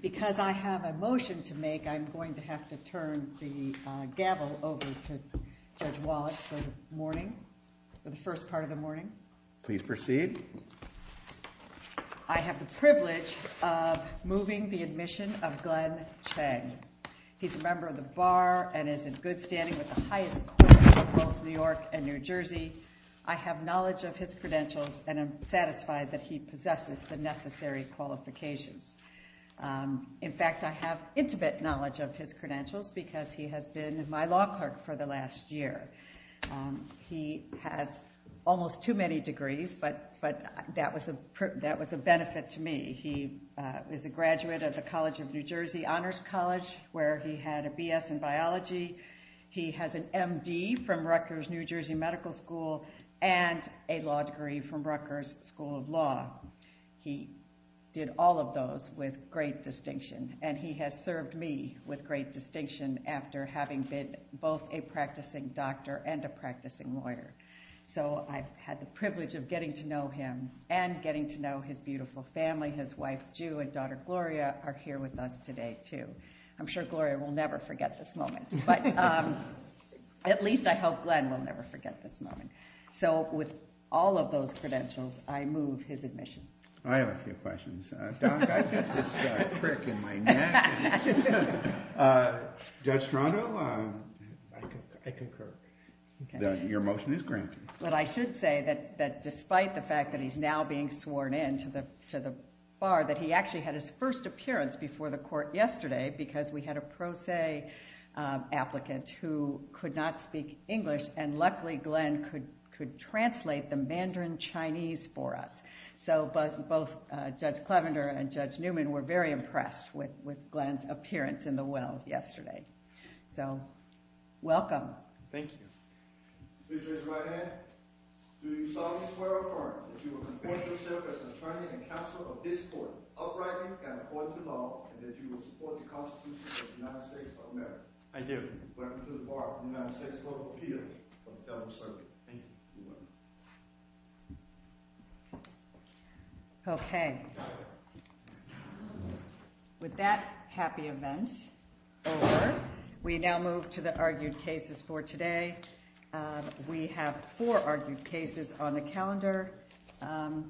Because I have a motion to make, I'm going to have to turn the gavel over to Judge Wallace for the first part of the morning. Please proceed. I have the privilege of moving the admission of Glenn Chang. He's a member of the Bar and is in good standing with the highest courts in both New York and New Jersey. I have knowledge of his credentials and am satisfied that he possesses the necessary qualifications. In fact, I have intimate knowledge of his credentials because he has been my law clerk for the last year. He has almost too many degrees, but that was a benefit to me. He is a graduate of the College of New Jersey Honors College where he had a BS in biology. He has an MD from Rutgers New Jersey Medical School and a law degree from Rutgers School of Law. He did all of those with great distinction, and he has served me with great distinction after having been both a practicing doctor and a practicing lawyer. So I've had the privilege of getting to know him and getting to know his beautiful family. His wife, Jew, and daughter, Gloria, are here with us today, too. I'm sure Gloria will never forget this moment, but at least I hope Glenn will never forget this moment. So with all of those credentials, I move his admission. I have a few questions. Doc, I've got this crick in my neck. Judge Strato? I concur. Your motion is granted. But I should say that despite the fact that he's now being sworn in to the bar, that he actually had his first appearance before the court yesterday because we had a pro se applicant who could not speak English, and luckily Glenn could translate the Mandarin Chinese for us. So both Judge Clevender and Judge Newman were very impressed with Glenn's appearance in the well yesterday. So welcome. Thank you. Please raise your right hand. Do you solemnly swear or affirm that you will report yourself as an attorney and counsel of this court outrightly and according to law, and that you will support the Constitution of the United States of America? I do. Welcome to the bar of the United States Voter Appeal of the Federal Circuit. Thank you. You're welcome. Okay. With that happy event over, we now move to the argued cases for today. We have four argued cases on the calendar and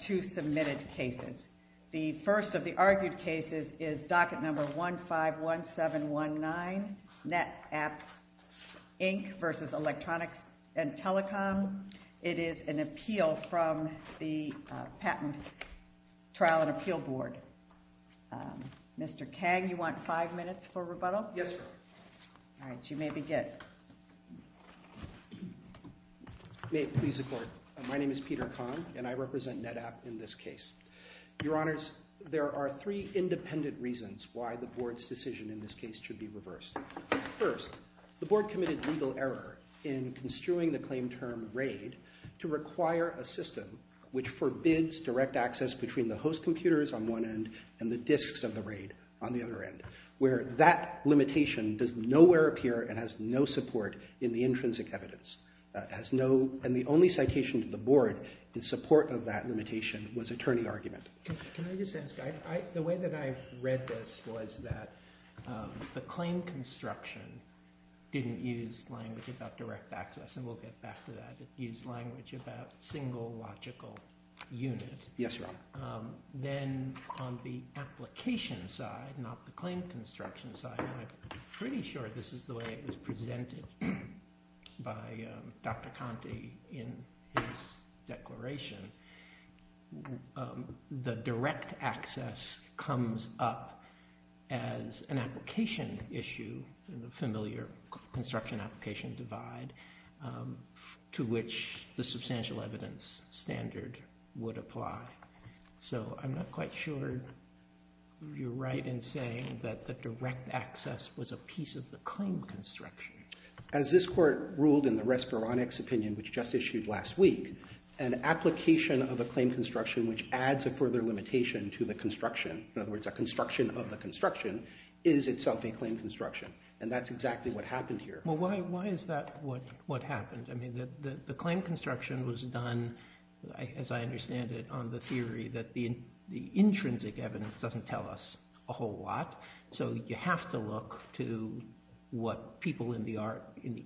two submitted cases. The first of the argued cases is docket number 151719, NetApp Inc. v. Electronics and Telecom. It is an appeal from the Patent Trial and Appeal Board. Mr. Kang, you want five minutes for rebuttal? Yes, ma'am. All right. You may begin. May it please the court. My name is Peter Kang, and I represent NetApp in this case. Your Honors, there are three independent reasons why the board's decision in this case should be reversed. First, the board committed legal error in construing the claim term raid to require a system which forbids direct access between the host computers on one end and the disks of the raid on the other end, where that limitation does nowhere appear and has no support in the intrinsic evidence. And the only citation to the board in support of that limitation was attorney argument. Can I just ask, the way that I read this was that the claim construction didn't use language about direct access, and we'll get back to that, it used language about single logical unit. Yes, Your Honor. Then on the application side, not the claim construction side, and I'm pretty sure this is the way it was presented by Dr. Conte in his declaration, the direct access comes up as an application issue in the familiar construction application divide to which the substantial evidence standard would apply. So I'm not quite sure you're right in saying that the direct access was a piece of the claim construction. As this court ruled in the Respironics opinion, which just issued last week, an application of a claim construction which adds a further limitation to the construction, in other words, a construction of the construction, is itself a claim construction. And that's exactly what happened here. Well, why is that what happened? I mean, the claim construction was done, as I understand it, on the theory that the intrinsic evidence doesn't tell us a whole lot. So you have to look to what people in the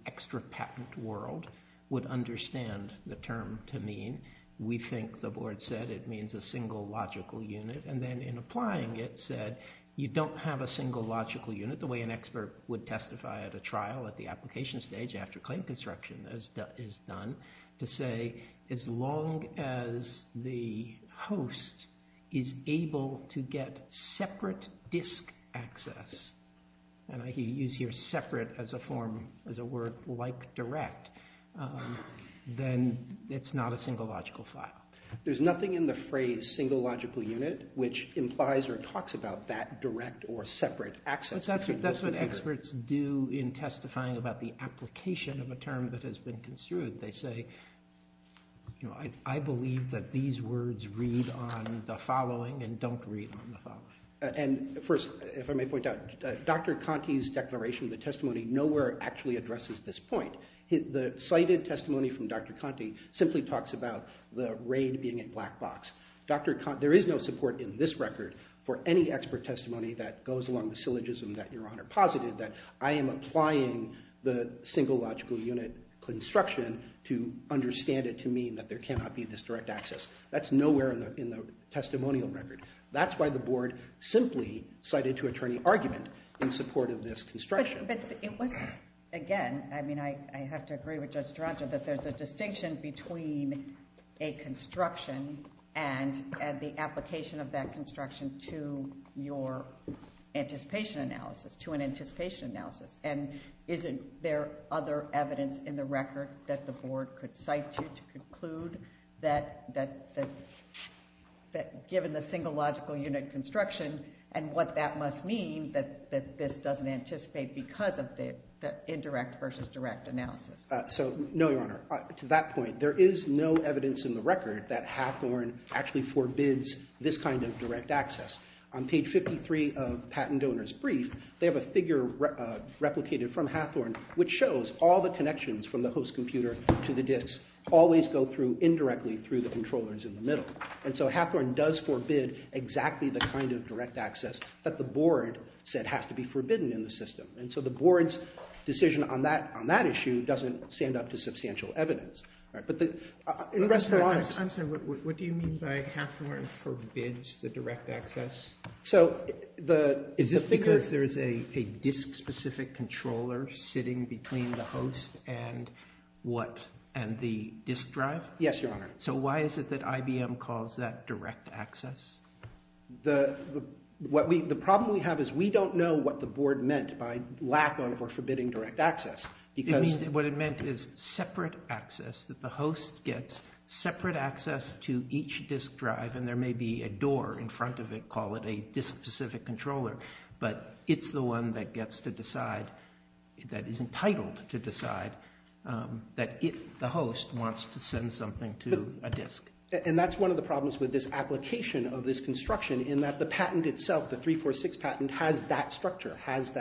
extra patent world would understand the term to mean. We think the board said it means a single logical unit. And then in applying it said you don't have a single logical unit, the way an expert would testify at a trial at the application stage after claim construction is done, to say as long as the host is able to get separate disk access, and I use here separate as a word like direct, then it's not a single logical file. There's nothing in the phrase single logical unit which implies or talks about that direct or separate access. That's what experts do in testifying about the application of a term that has been construed. They say, you know, I believe that these words read on the following and don't read on the following. And first, if I may point out, Dr. Conte's declaration of the testimony nowhere actually addresses this point. The cited testimony from Dr. Conte simply talks about the raid being a black box. There is no support in this record for any expert testimony that goes along the syllogism that Your Honor posited, that I am applying the single logical unit construction to understand it to mean that there cannot be this direct access. That's nowhere in the testimonial record. That's why the board simply cited to attorney argument in support of this construction. But it was, again, I mean, I have to agree with Judge Taranto that there's a distinction between a construction and the application of that construction to your anticipation analysis, to an anticipation analysis. And isn't there other evidence in the record that the board could cite to conclude that given the single logical unit construction and what that must mean that this doesn't anticipate because of the indirect versus direct analysis? So, no, Your Honor. To that point, there is no evidence in the record that Hathorne actually forbids this kind of direct access. On page 53 of Patent Donor's Brief, they have a figure replicated from Hathorne, which shows all the connections from the host computer to the disks always go through indirectly through the controllers in the middle. And so Hathorne does forbid exactly the kind of direct access that the board said has to be forbidden in the system. And so the board's decision on that issue doesn't stand up to substantial evidence. But the rest of the lines— I'm sorry. What do you mean by Hathorne forbids the direct access? So the— Is this because there's a disk-specific controller sitting between the host and what? And the disk drive? Yes, Your Honor. So why is it that IBM calls that direct access? The problem we have is we don't know what the board meant by lack of or forbidding direct access because— It means what it meant is separate access, that the host gets separate access to each disk drive, and there may be a door in front of it, call it a disk-specific controller, but it's the one that gets to decide, that is entitled to decide, that the host wants to send something to a disk. And that's one of the problems with this application of this construction in that the patent itself, the 346 patent, has that structure, has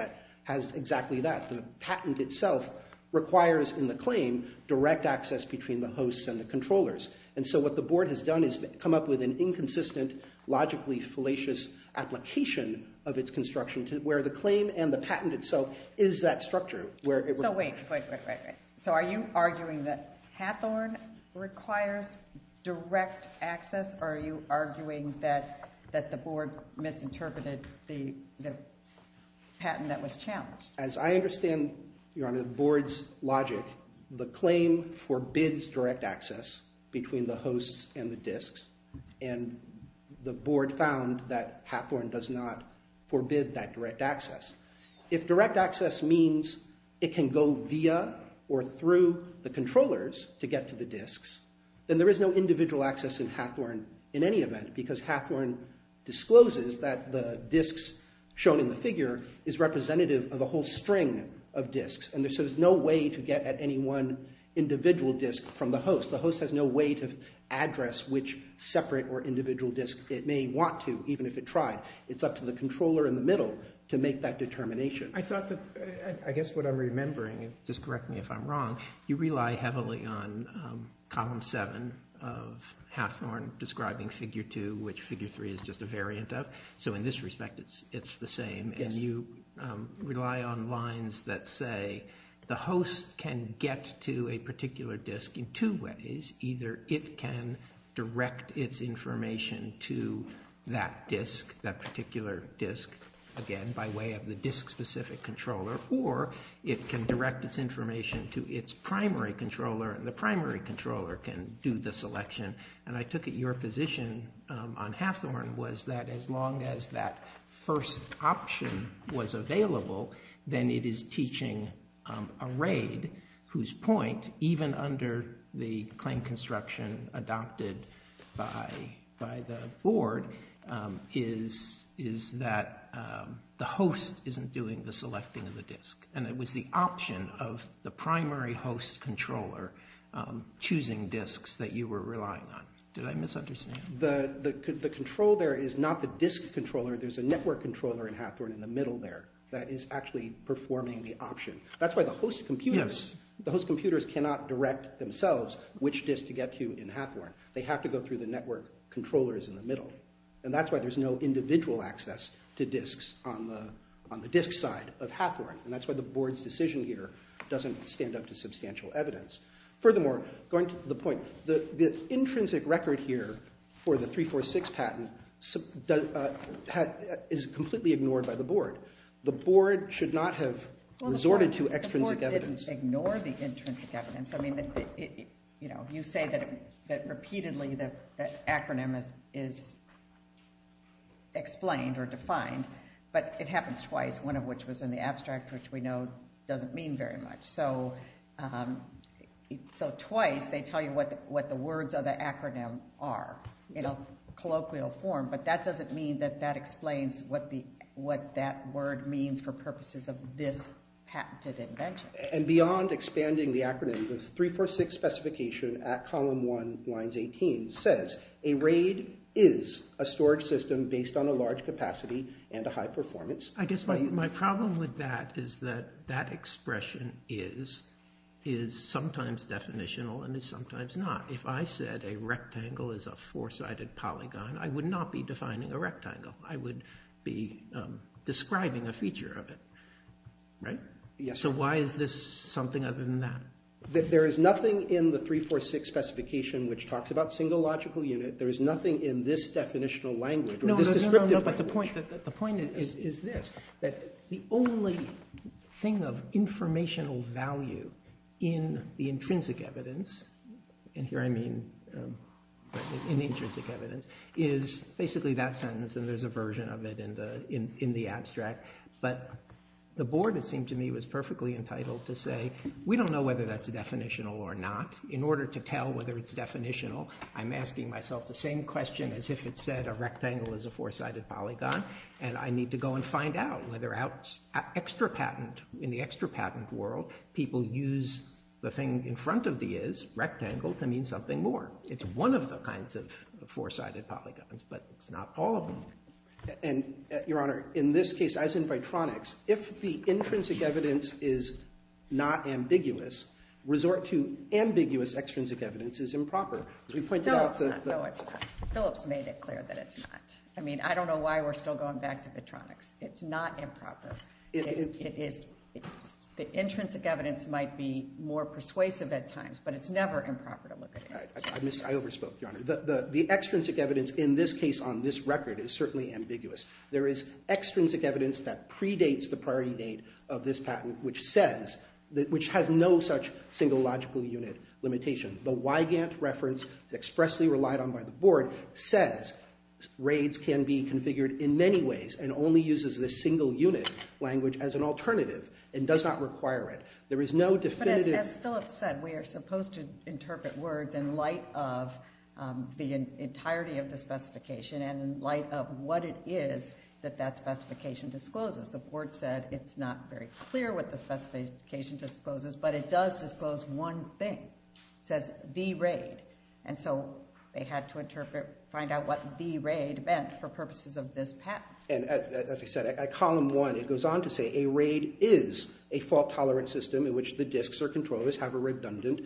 exactly that. The patent itself requires, in the claim, direct access between the hosts and the controllers. And so what the board has done is come up with an inconsistent, logically fallacious application of its construction where the claim and the patent itself is that structure. So wait, wait, wait, wait. So are you arguing that Hathorne requires direct access, or are you arguing that the board misinterpreted the patent that was challenged? As I understand, Your Honor, the board's logic, the claim forbids direct access between the hosts and the disks, and the board found that Hathorne does not forbid that direct access. If direct access means it can go via or through the controllers to get to the disks, then there is no individual access in Hathorne in any event because Hathorne discloses that the disks shown in the figure is representative of a whole string of disks. And so there's no way to get at any one individual disk from the host. The host has no way to address which separate or individual disk it may want to, even if it tried. It's up to the controller in the middle to make that determination. I thought that, I guess what I'm remembering, and just correct me if I'm wrong, you rely heavily on column seven of Hathorne describing figure two, which figure three is just a variant of. So in this respect, it's the same. And you rely on lines that say the host can get to a particular disk in two ways. Either it can direct its information to that disk, that particular disk, again by way of the disk-specific controller, or it can direct its information to its primary controller, and the primary controller can do the selection. And I took it your position on Hathorne was that as long as that first option was available, then it is teaching a RAID whose point, even under the claim construction adopted by the board, is that the host isn't doing the selecting of the disk. And it was the option of the primary host controller choosing disks that you were relying on. Did I misunderstand? The control there is not the disk controller. There's a network controller in Hathorne in the middle there that is actually performing the option. That's why the host computers cannot direct themselves which disk to get to in Hathorne. They have to go through the network controllers in the middle. And that's why there's no individual access to disks on the disk side of Hathorne. And that's why the board's decision here doesn't stand up to substantial evidence. Furthermore, going to the point, the intrinsic record here for the 346 patent is completely ignored by the board. The board should not have resorted to extrinsic evidence. The board didn't ignore the intrinsic evidence. You say that repeatedly the acronym is explained or defined, but it happens twice, one of which was in the abstract which we know doesn't mean very much. So twice they tell you what the words of the acronym are in a colloquial form, but that doesn't mean that that explains what that word means for purposes of this patented invention. And beyond expanding the acronym, the 346 specification at column 1 lines 18 says, a RAID is a storage system based on a large capacity and a high performance. I guess my problem with that is that that expression is sometimes definitional and is sometimes not. If I said a rectangle is a four-sided polygon, I would not be defining a rectangle. I would be describing a feature of it. So why is this something other than that? There is nothing in the 346 specification which talks about single logical unit. There is nothing in this definitional language or this descriptive language. The point is this, that the only thing of informational value in the intrinsic evidence, and here I mean in intrinsic evidence, is basically that sentence and there's a version of it in the abstract. But the board, it seemed to me, was perfectly entitled to say, we don't know whether that's definitional or not. In order to tell whether it's definitional, I'm asking myself the same question as if it said a rectangle is a four-sided polygon, and I need to go and find out whether in the extra patent world, people use the thing in front of the is, rectangle, to mean something more. It's one of the kinds of four-sided polygons, but it's not all of them. Your Honor, in this case, as in Vitronics, if the intrinsic evidence is not ambiguous, resort to ambiguous extrinsic evidence is improper. No, it's not. Phillips made it clear that it's not. I mean, I don't know why we're still going back to Vitronics. It's not improper. The intrinsic evidence might be more persuasive at times, but it's never improper to look at it. I overspoke, Your Honor. The extrinsic evidence in this case on this record is certainly ambiguous. There is extrinsic evidence that predates the priority date of this patent, which has no such single logical unit limitation. The Wygant reference expressly relied on by the Board says RAIDs can be configured in many ways and only uses the single unit language as an alternative and does not require it. As Phillips said, we are supposed to interpret words in light of the entirety of the specification and in light of what it is that that specification discloses. The Board said it's not very clear what the specification discloses, but it does disclose one thing. It says the RAID, and so they had to find out what the RAID meant for purposes of this patent. As I said, at column one it goes on to say a RAID is a fault-tolerant system in which the disks or controllers have a redundant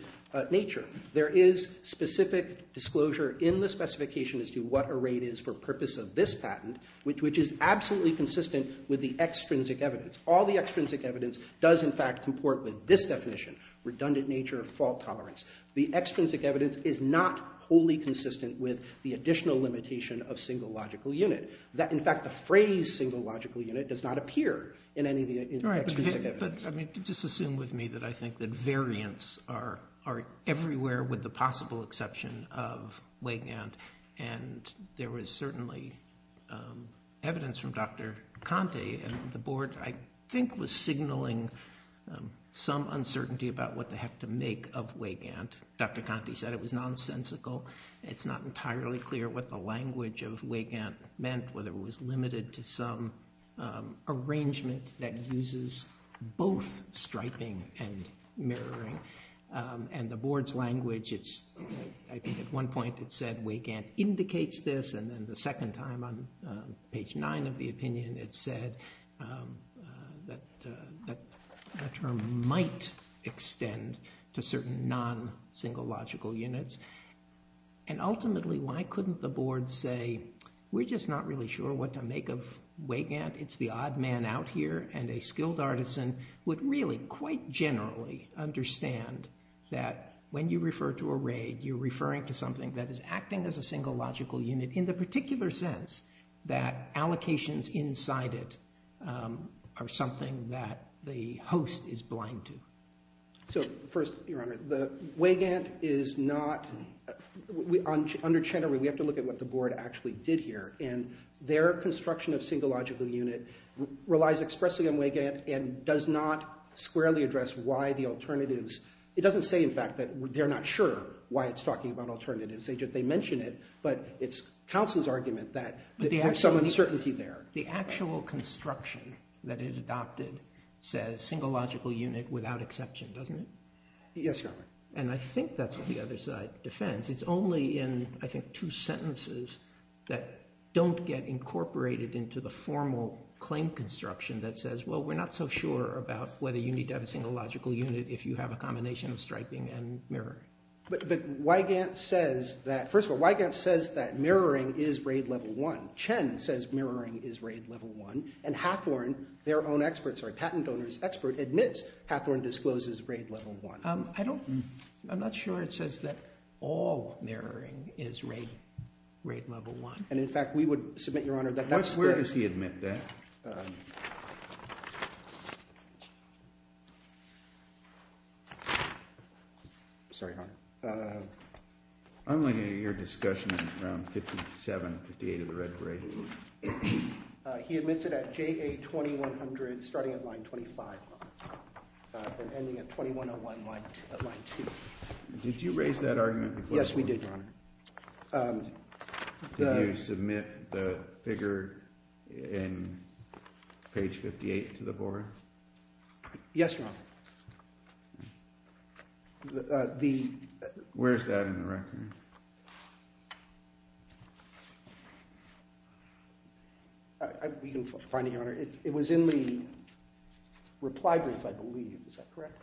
nature. There is specific disclosure in the specification as to what a RAID is for purposes of this patent, which is absolutely consistent with the extrinsic evidence. All the extrinsic evidence does, in fact, comport with this definition, redundant nature of fault tolerance. The extrinsic evidence is not wholly consistent with the additional limitation of single logical unit. In fact, the phrase single logical unit does not appear in any of the extrinsic evidence. Just assume with me that I think that variants are everywhere with the possible exception of WGANT, and there was certainly evidence from Dr. Conte, and the Board, I think, was signaling some uncertainty about what the heck to make of WGANT. Dr. Conte said it was nonsensical. It's not entirely clear what the language of WGANT meant, whether it was limited to some arrangement that uses both striping and mirroring. And the Board's language, I think at one point it said WGANT indicates this, and then the second time on page 9 of the opinion it said that the term might extend to certain non-single logical units. And ultimately, why couldn't the Board say, we're just not really sure what to make of WGANT, it's the odd man out here, and a skilled artisan would really quite generally understand that when you refer to a RAID, you're referring to something that is acting as a single logical unit, in the particular sense that allocations inside it are something that the host is blind to. So first, Your Honor, the WGANT is not, under Chenoweth, we have to look at what the Board actually did here, and their construction of single logical unit relies expressly on WGANT and does not squarely address why the alternatives, it doesn't say in fact that they're not sure why it's talking about alternatives, they mention it, but it's counsel's argument that there's some uncertainty there. The actual construction that it adopted says single logical unit without exception, doesn't it? Yes, Your Honor. And I think that's what the other side defends. It's only in, I think, two sentences that don't get incorporated into the formal claim construction that says, well, we're not so sure about whether you need to have a single logical unit if you have a combination of striping and mirroring. But WGANT says that, first of all, WGANT says that mirroring is RAID Level 1. Chen says mirroring is RAID Level 1, and Hathorne, their own expert, sorry, patent owner's expert, admits Hathorne discloses RAID Level 1. I don't, I'm not sure it says that all mirroring is RAID Level 1. And in fact, we would submit, Your Honor, that that's the Where does he admit that? Sorry, Your Honor. I'm looking at your discussion from 57, 58 of the red grade. He admits it at JA 2100 starting at line 25 and ending at 2101 at line 2. Did you raise that argument before? Yes, we did, Your Honor. Did you submit the figure in page 58 to the board? Yes, Your Honor. Where is that in the record? You can find it, Your Honor. It was in the reply brief, I believe. Is that correct? Yes.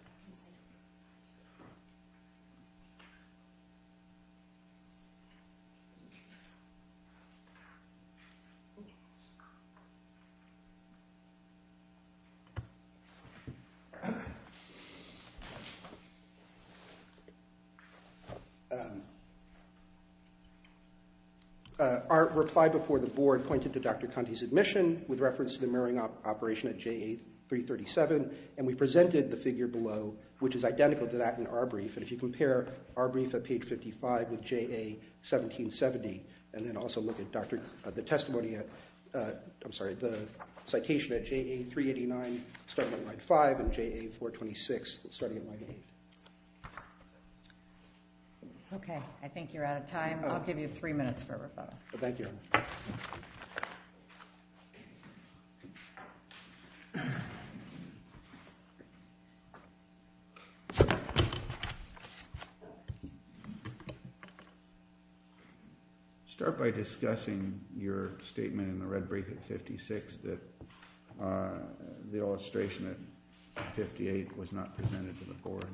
Our reply before the board pointed to Dr. Conte's admission with reference to the mirroring operation at JA 337, and we presented the figure below, which is identical to that in our brief. And if you compare our brief at page 55 with JA 1770, and then also look at the testimony at, I'm sorry, the citation at JA 389 starting at line 5 and JA 426 starting at line 8. I think you're out of time. I'll give you three minutes for a rebuttal. Thank you, Your Honor. Start by discussing your statement in the red brief at 56 that the illustration at 58 was not presented to the board.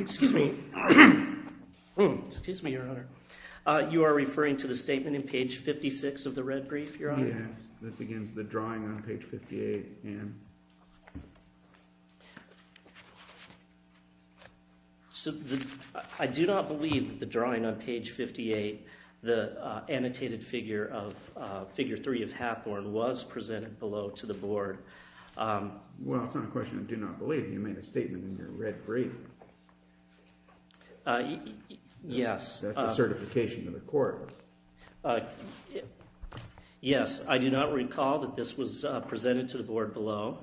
Excuse me, Your Honor. You are referring to the statement in page 56 of the red brief, Your Honor? Yes. That begins the drawing on page 58. I do not believe that the drawing on page 58, the annotated figure of figure 3 of Hathorne was presented below to the board. Well, it's not a question of do not believe. You made a statement in your red brief. Yes. That's a certification to the court. Yes. I do not recall that this was presented to the board below.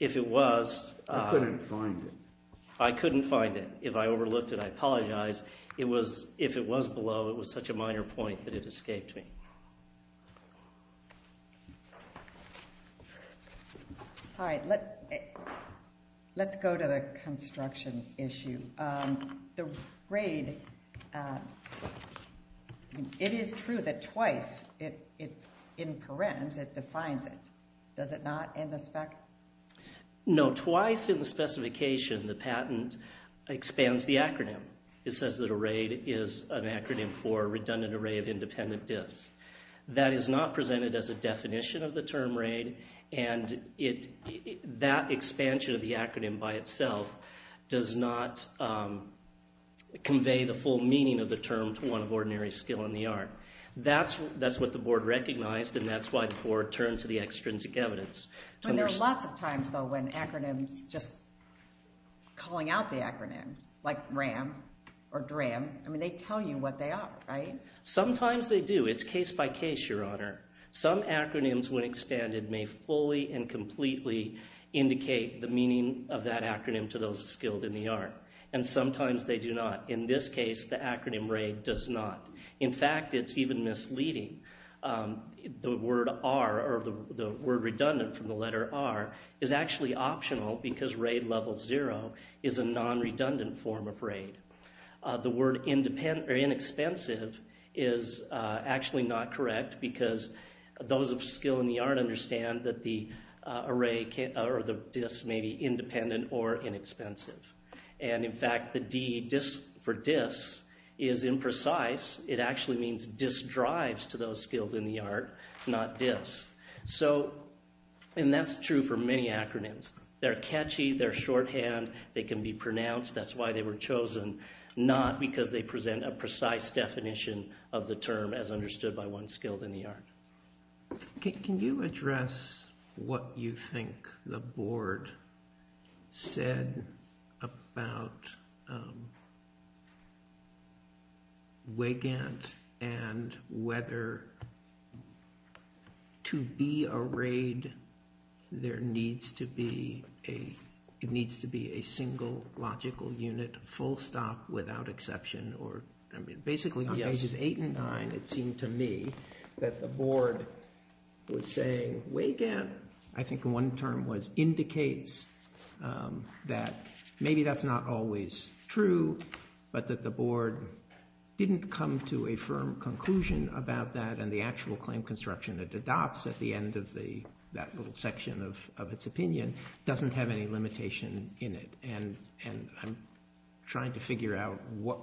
If it was. I couldn't find it. I couldn't find it. If I overlooked it, I apologize. If it was below, it was such a minor point that it escaped me. All right. Let's go to the construction issue. The RAID, it is true that twice, in parens, it defines it. Does it not in the spec? No. Twice in the specification, the patent expands the acronym. It says that a RAID is an acronym for redundant array of independent diffs. That is not presented as a definition of the term RAID, and that expansion of the acronym by itself does not convey the full meaning of the term to one of ordinary skill in the art. That's what the board recognized, and that's why the board turned to the extrinsic evidence. There are lots of times, though, when acronyms just calling out the acronyms, like RAM or DRAM. I mean, they tell you what they are, right? Sometimes they do. It's case by case, Your Honor. Some acronyms, when expanded, may fully and completely indicate the meaning of that acronym to those skilled in the art, and sometimes they do not. In this case, the acronym RAID does not. In fact, it's even misleading. The word redundant from the letter R is actually optional because RAID level zero is a non-redundant form of RAID. The word inexpensive is actually not correct because those of skill in the art understand that the array or the diffs may be independent or inexpensive. In fact, the D for diffs is imprecise. It actually means diff drives to those skilled in the art, not diffs. That's true for many acronyms. They're catchy. They're shorthand. They can be pronounced. That's why they were chosen, not because they present a precise definition of the term as understood by one skilled in the art. Can you address what you think the board said about WIGANT and whether to be a RAID there needs to be a single logical unit, full stop, without exception? Basically, on pages eight and nine, it seemed to me that the board was saying WIGANT, I think the one term was indicates that maybe that's not always true, but that the board didn't come to a firm conclusion about that and the actual claim construction it adopts at the end of that little section of its opinion doesn't have any limitation in it. I'm trying to figure out what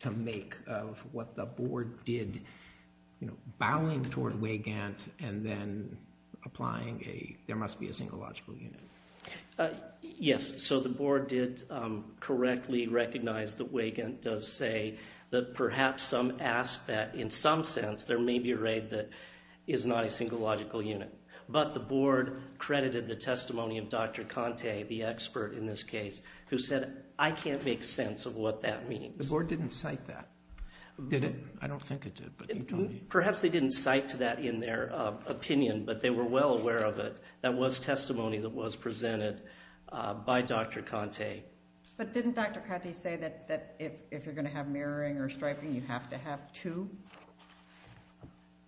to make of what the board did, bowing toward WIGANT and then applying a, there must be a single logical unit. Yes, so the board did correctly recognize that WIGANT does say that perhaps some aspect, in some sense, there may be a RAID that is not a single logical unit. But the board credited the testimony of Dr. Conte, the expert in this case, who said, I can't make sense of what that means. The board didn't cite that, did it? I don't think it did. Perhaps they didn't cite that in their opinion, but they were well aware of it. That was testimony that was presented by Dr. Conte. But didn't Dr. Conte say that if you're going to have mirroring or striping, you have to have two?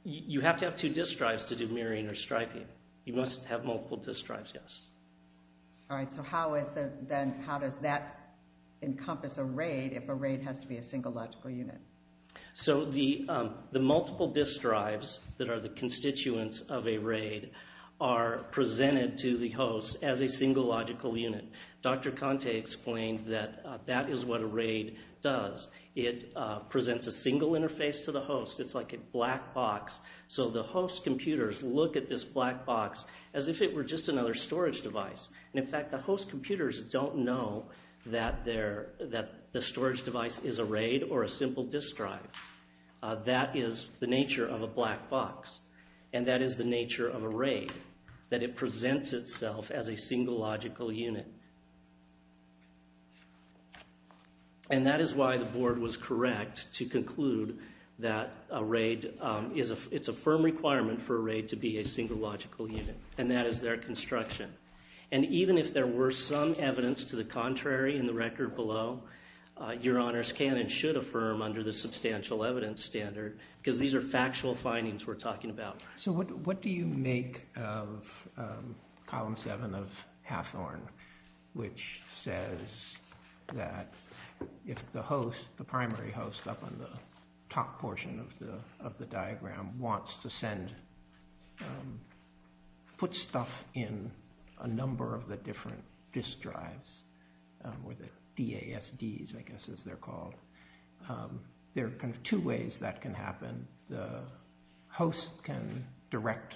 You have to have two disk drives to do mirroring or striping. You must have multiple disk drives, yes. All right, so how does that encompass a RAID if a RAID has to be a single logical unit? So the multiple disk drives that are the constituents of a RAID are presented to the host as a single logical unit. Dr. Conte explained that that is what a RAID does. It presents a single interface to the host. It's like a black box. So the host computers look at this black box as if it were just another storage device. And, in fact, the host computers don't know that the storage device is a RAID or a simple disk drive. That is the nature of a black box, and that is the nature of a RAID, that it presents itself as a single logical unit. And that is why the board was correct to conclude that a RAID is a firm requirement for a RAID to be a single logical unit, and that is their construction. And even if there were some evidence to the contrary in the record below, your honors can and should affirm under the substantial evidence standard, because these are factual findings we're talking about. So what do you make of column seven of Hathorne, which says that if the host, the primary host up on the top portion of the diagram, wants to put stuff in a number of the different disk drives, or the DASDs, I guess as they're called, there are kind of two ways that can happen. The host can direct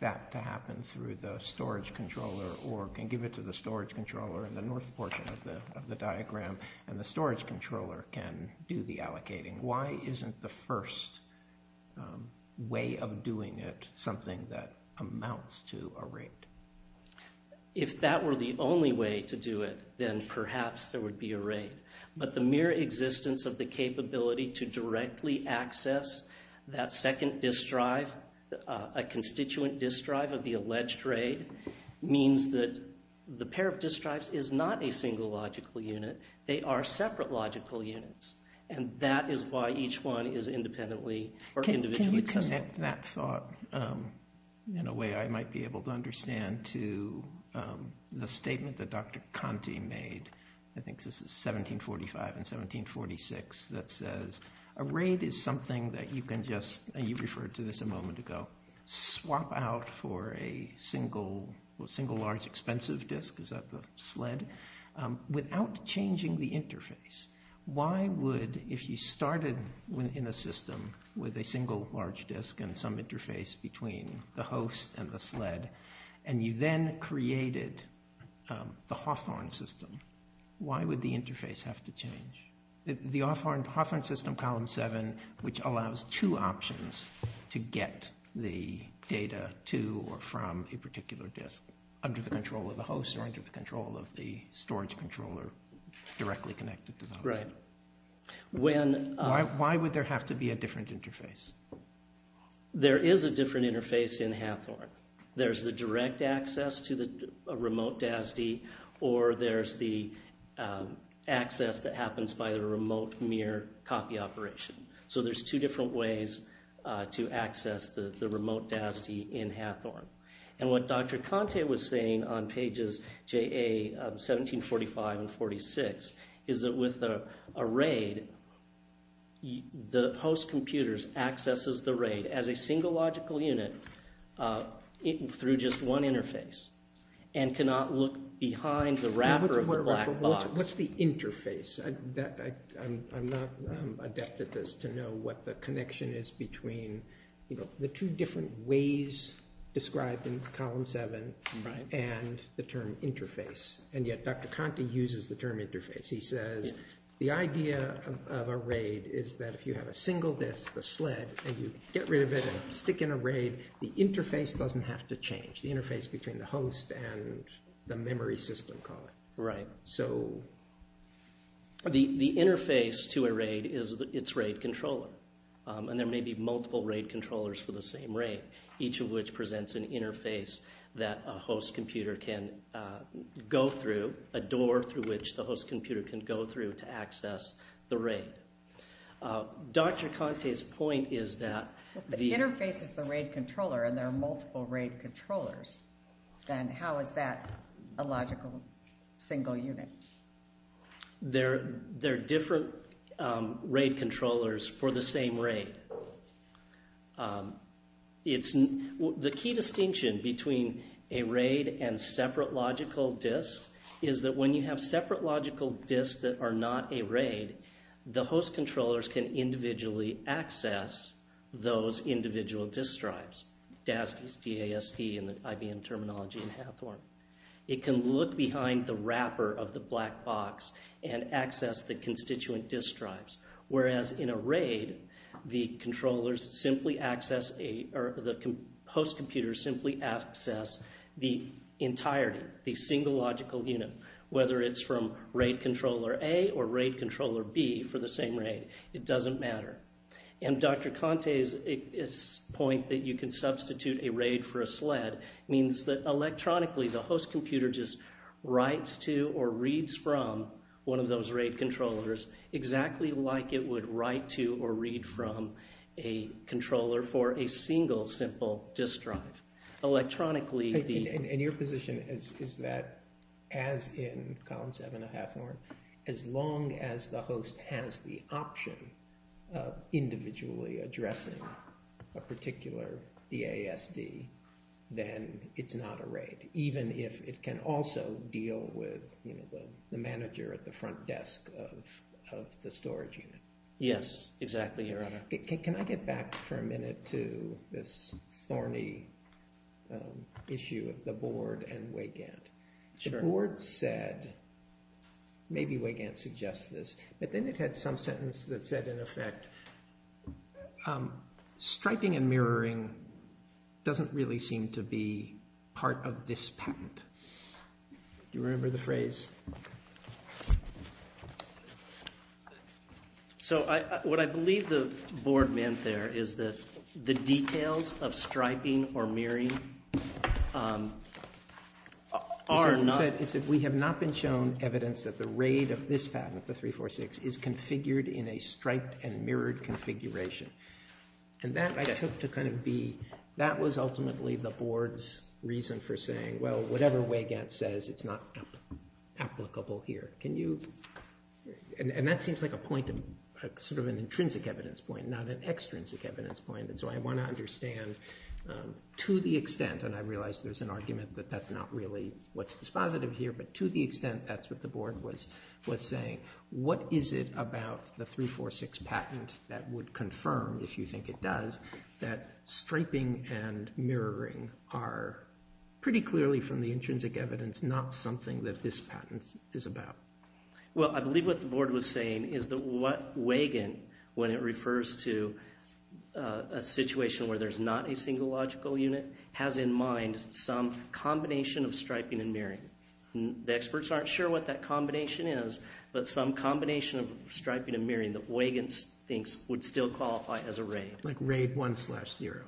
that to happen through the storage controller, or can give it to the storage controller in the north portion of the diagram, and the storage controller can do the allocating. Why isn't the first way of doing it something that amounts to a RAID? If that were the only way to do it, then perhaps there would be a RAID. But the mere existence of the capability to directly access that second disk drive, a constituent disk drive of the alleged RAID, means that the pair of disk drives is not a single logical unit. They are separate logical units. And that is why each one is independently or individually accessible. Can we connect that thought in a way I might be able to understand to the statement that Dr. Conte made, I think this is 1745 and 1746, that says a RAID is something that you can just, and you referred to this a moment ago, swap out for a single large expensive disk, is that the SLED, without changing the interface. Why would, if you started in a system with a single large disk and you then created the Hawthorne system, why would the interface have to change? The Hawthorne system, column seven, which allows two options to get the data to or from a particular disk under the control of the host or under the control of the storage controller directly connected to that. Right. Why would there have to be a different interface? There is a different interface in Hawthorne. There's the direct access to the remote DASD, or there's the access that happens by the remote mirror copy operation. So there's two different ways to access the remote DASD in Hawthorne. And what Dr. Conte was saying on pages JA of 1745 and 46, is that with a RAID, the host computers accesses the RAID as a single logical unit through just one interface and cannot look behind the wrapper of the black box. What's the interface? I'm not adept at this to know what the connection is between the two different ways described in column seven and the term interface. And yet Dr. Conte uses the term interface. He says the idea of a RAID is that if you have a single disk, a sled, and you get rid of it and stick in a RAID, the interface doesn't have to change, the interface between the host and the memory system, call it. Right. The interface to a RAID is its RAID controller. And there may be multiple RAID controllers for the same RAID, each of which presents an interface that a host computer can go through, a door through which the host computer can go through to access the RAID. Dr. Conte's point is that the interface is the RAID controller and there are multiple RAID controllers. Then how is that a logical single unit? There are different RAID controllers for the same RAID. The key distinction between a RAID and separate logical disks is that when you have separate logical disks that are not a RAID, the host controllers can individually access those individual disk drives, DASDs, D-A-S-D in the IBM terminology and Hathorne. It can look behind the wrapper of the black box and access the constituent disk drives. Whereas in a RAID, the controllers simply access, or the host computers simply access the entirety, the single logical unit, whether it's from RAID controller A or RAID controller B for the same RAID. It doesn't matter. And Dr. Conte's point that you can substitute a RAID for a SLED means that electronically the host computer just writes to or reads from one of those RAID controllers exactly like it would write to or read from a controller for a single simple disk drive. Electronically the- And your position is that as in column 7 of Hathorne, as long as the host has the option of individually addressing a particular DASD, then it's not a RAID, even if it can also deal with the manager at the front desk of the storage unit. Yes, exactly, Your Honor. Can I get back for a minute to this thorny issue of the board and Weygandt? Sure. The board said, maybe Weygandt suggests this, but then it had some sentence that said in effect, striping and mirroring doesn't really seem to be part of this patent. Do you remember the phrase? So what I believe the board meant there is that the details of striping or mirroring are not- And that I took to kind of be- That was ultimately the board's reason for saying, well, whatever Weygandt says, it's not applicable here. Can you- And that seems like a point of- sort of an intrinsic evidence point, not an extrinsic evidence point. And so I want to understand to the extent, and I realize there's an argument that that's not really what's dispositive here, but to the extent that's what the board was saying. What is it about the 346 patent that would confirm, if you think it does, that striping and mirroring are pretty clearly from the intrinsic evidence, not something that this patent is about? Well, I believe what the board was saying is that what Weygandt, when it refers to a situation where there's not a single logical unit, has in mind some combination of striping and mirroring. The experts aren't sure what that combination is, but some combination of striping and mirroring that Weygandt thinks would still qualify as a RAID. Like RAID 1 slash 0.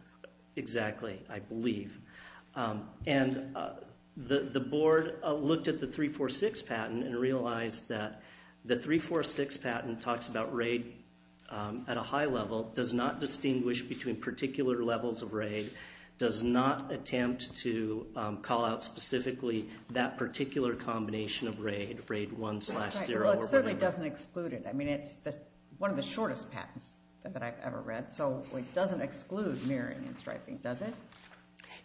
Exactly, I believe. And the board looked at the 346 patent and realized that the 346 patent talks about RAID at a high level, does not distinguish between particular levels of RAID, does not attempt to call out specifically that particular combination of RAID, RAID 1 slash 0. Well, it certainly doesn't exclude it. I mean, it's one of the shortest patents that I've ever read, so it doesn't exclude mirroring and striping, does it?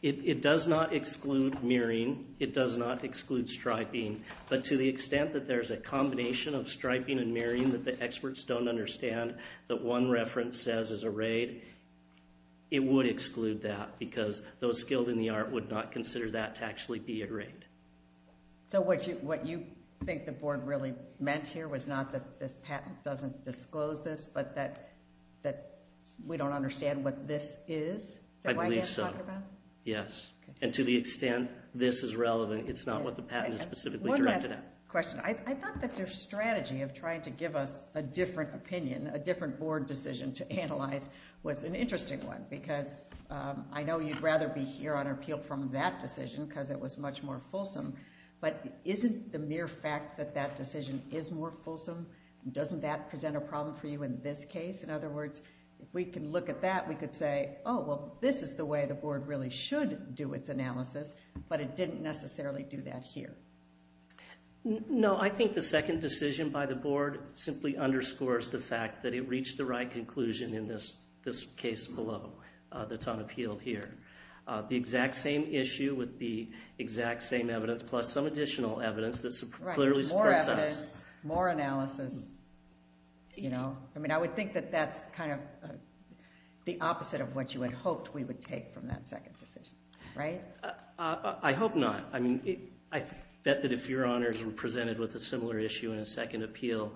It does not exclude mirroring. It does not exclude striping. But to the extent that there's a combination of striping and mirroring that the experts don't understand, that one reference says is a RAID, it would exclude that, because those skilled in the art would not consider that to actually be a RAID. So what you think the board really meant here was not that this patent doesn't disclose this, but that we don't understand what this is that Weygandt talked about? I believe so, yes. And to the extent this is relevant, it's not what the patent is specifically directed at. I have a question. I thought that their strategy of trying to give us a different opinion, a different board decision to analyze was an interesting one, because I know you'd rather be here on appeal from that decision because it was much more fulsome, but isn't the mere fact that that decision is more fulsome, doesn't that present a problem for you in this case? In other words, if we can look at that, we could say, oh, well, this is the way the board really should do its analysis, but it didn't necessarily do that here. No, I think the second decision by the board simply underscores the fact that it reached the right conclusion in this case below that's on appeal here. The exact same issue with the exact same evidence plus some additional evidence that clearly supports us. Right, more evidence, more analysis. I mean, I would think that that's kind of the opposite of what you had hoped we would take from that second decision, right? I hope not. I mean, I bet that if your honors were presented with a similar issue in a second appeal,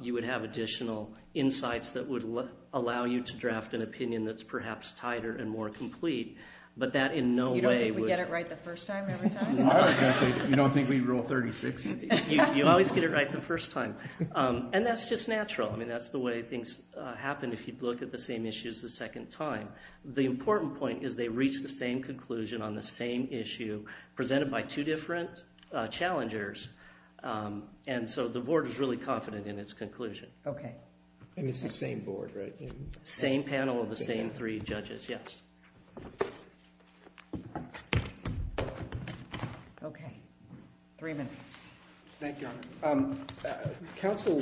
you would have additional insights that would allow you to draft an opinion that's perhaps tighter and more complete, but that in no way would- You don't think we get it right the first time every time? I was going to say, you don't think we rule 36? You always get it right the first time, and that's just natural. I mean, that's the way things happen if you look at the same issues the second time. The important point is they reach the same conclusion on the same issue presented by two different challengers, and so the board is really confident in its conclusion. Okay. And it's the same board, right? Same panel of the same three judges, yes. Okay. Three minutes. Thank you, Your Honor. Counsel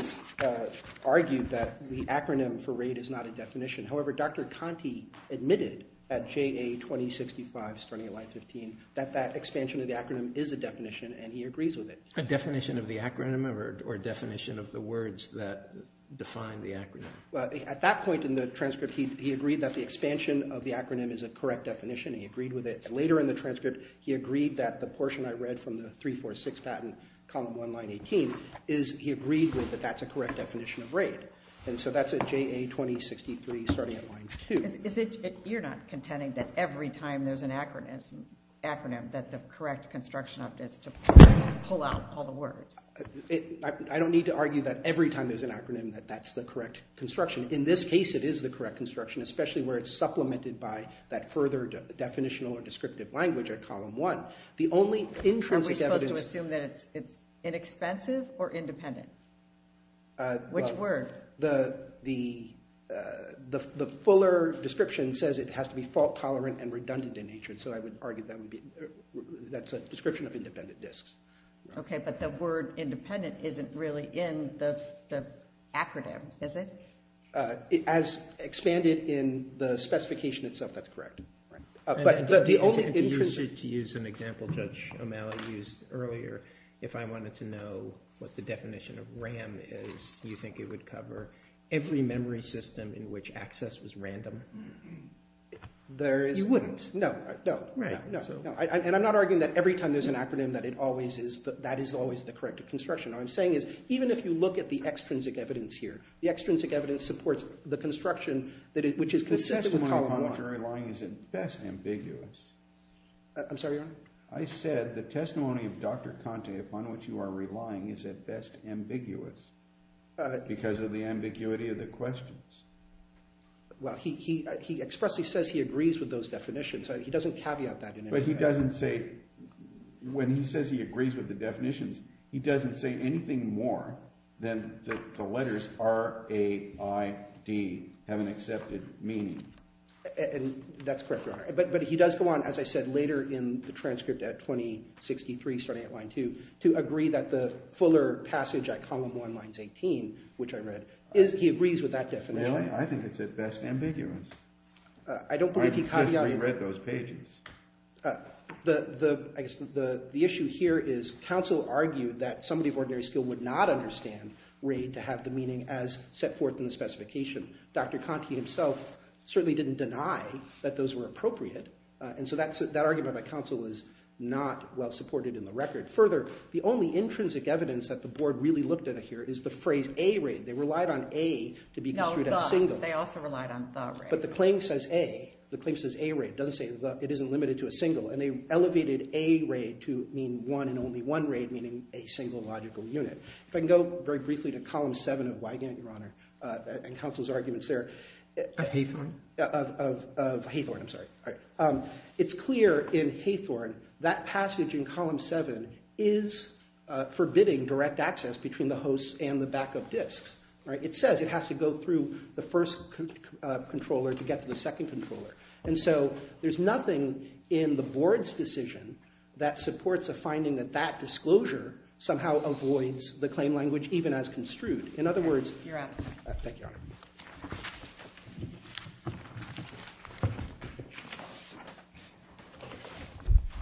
argued that the acronym for RAID is not a definition. However, Dr. Conte admitted at JA 2065 starting at line 15 that that expansion of the acronym is a definition, and he agrees with it. A definition of the acronym or a definition of the words that define the acronym? Well, at that point in the transcript, he agreed that the expansion of the acronym is a correct definition. He agreed with it. Later in the transcript, he agreed that the portion I read from the 346 patent, column 1, line 18, he agreed with that that's a correct definition of RAID. And so that's at JA 2063 starting at line 2. You're not contending that every time there's an acronym that the correct construction of it is to pull out all the words? I don't need to argue that every time there's an acronym that that's the correct construction. In this case, it is the correct construction, especially where it's supplemented by that further definitional or descriptive language at column 1. Are we supposed to assume that it's inexpensive or independent? Which word? The fuller description says it has to be fault tolerant and redundant in nature, and so I would argue that's a description of independent disks. Okay, but the word independent isn't really in the acronym, is it? As expanded in the specification itself, that's correct. To use an example Judge O'Malley used earlier, if I wanted to know what the definition of RAM is, do you think it would cover every memory system in which access was random? You wouldn't. No. And I'm not arguing that every time there's an acronym that that is always the correct construction. What I'm saying is even if you look at the extrinsic evidence here, the extrinsic evidence supports the construction which is consistent with column 1. The testimony upon which you are relying is at best ambiguous. I'm sorry, Your Honor? I said the testimony of Dr. Conte upon which you are relying is at best ambiguous, because of the ambiguity of the questions. Well, he expressly says he agrees with those definitions. He doesn't caveat that in any way. But he doesn't say, when he says he agrees with the definitions, he doesn't say anything more than that the letters R, A, I, D have an accepted meaning. And that's correct, Your Honor. But he does go on, as I said, later in the transcript at 2063, starting at line 2, to agree that the fuller passage at column 1, lines 18, which I read, he agrees with that definition. Really? I think it's at best ambiguous. I don't believe he caveated. I just reread those pages. The issue here is counsel argued that somebody of ordinary skill would not understand RAID to have the meaning as set forth in the specification. Dr. Conte himself certainly didn't deny that those were appropriate, and so that argument by counsel was not well supported in the record. Further, the only intrinsic evidence that the Board really looked at here is the phrase A-RAID. They relied on A to be construed as single. No, the. They also relied on the RAID. But the claim says A. The claim says A-RAID. It doesn't say it isn't limited to a single. And they elevated A-RAID to mean one and only one RAID, meaning a single logical unit. If I can go very briefly to column 7 of Wygant, Your Honor, and counsel's arguments there. Of Hathorne? Of Hathorne, I'm sorry. It's clear in Hathorne that passage in column 7 is forbidding direct access between the hosts and the backup disks. It says it has to go through the first controller to get to the second controller. And so there's nothing in the Board's decision that supports a finding that that disclosure somehow avoids the claim language even as construed. In other words. Thank you, Your Honor.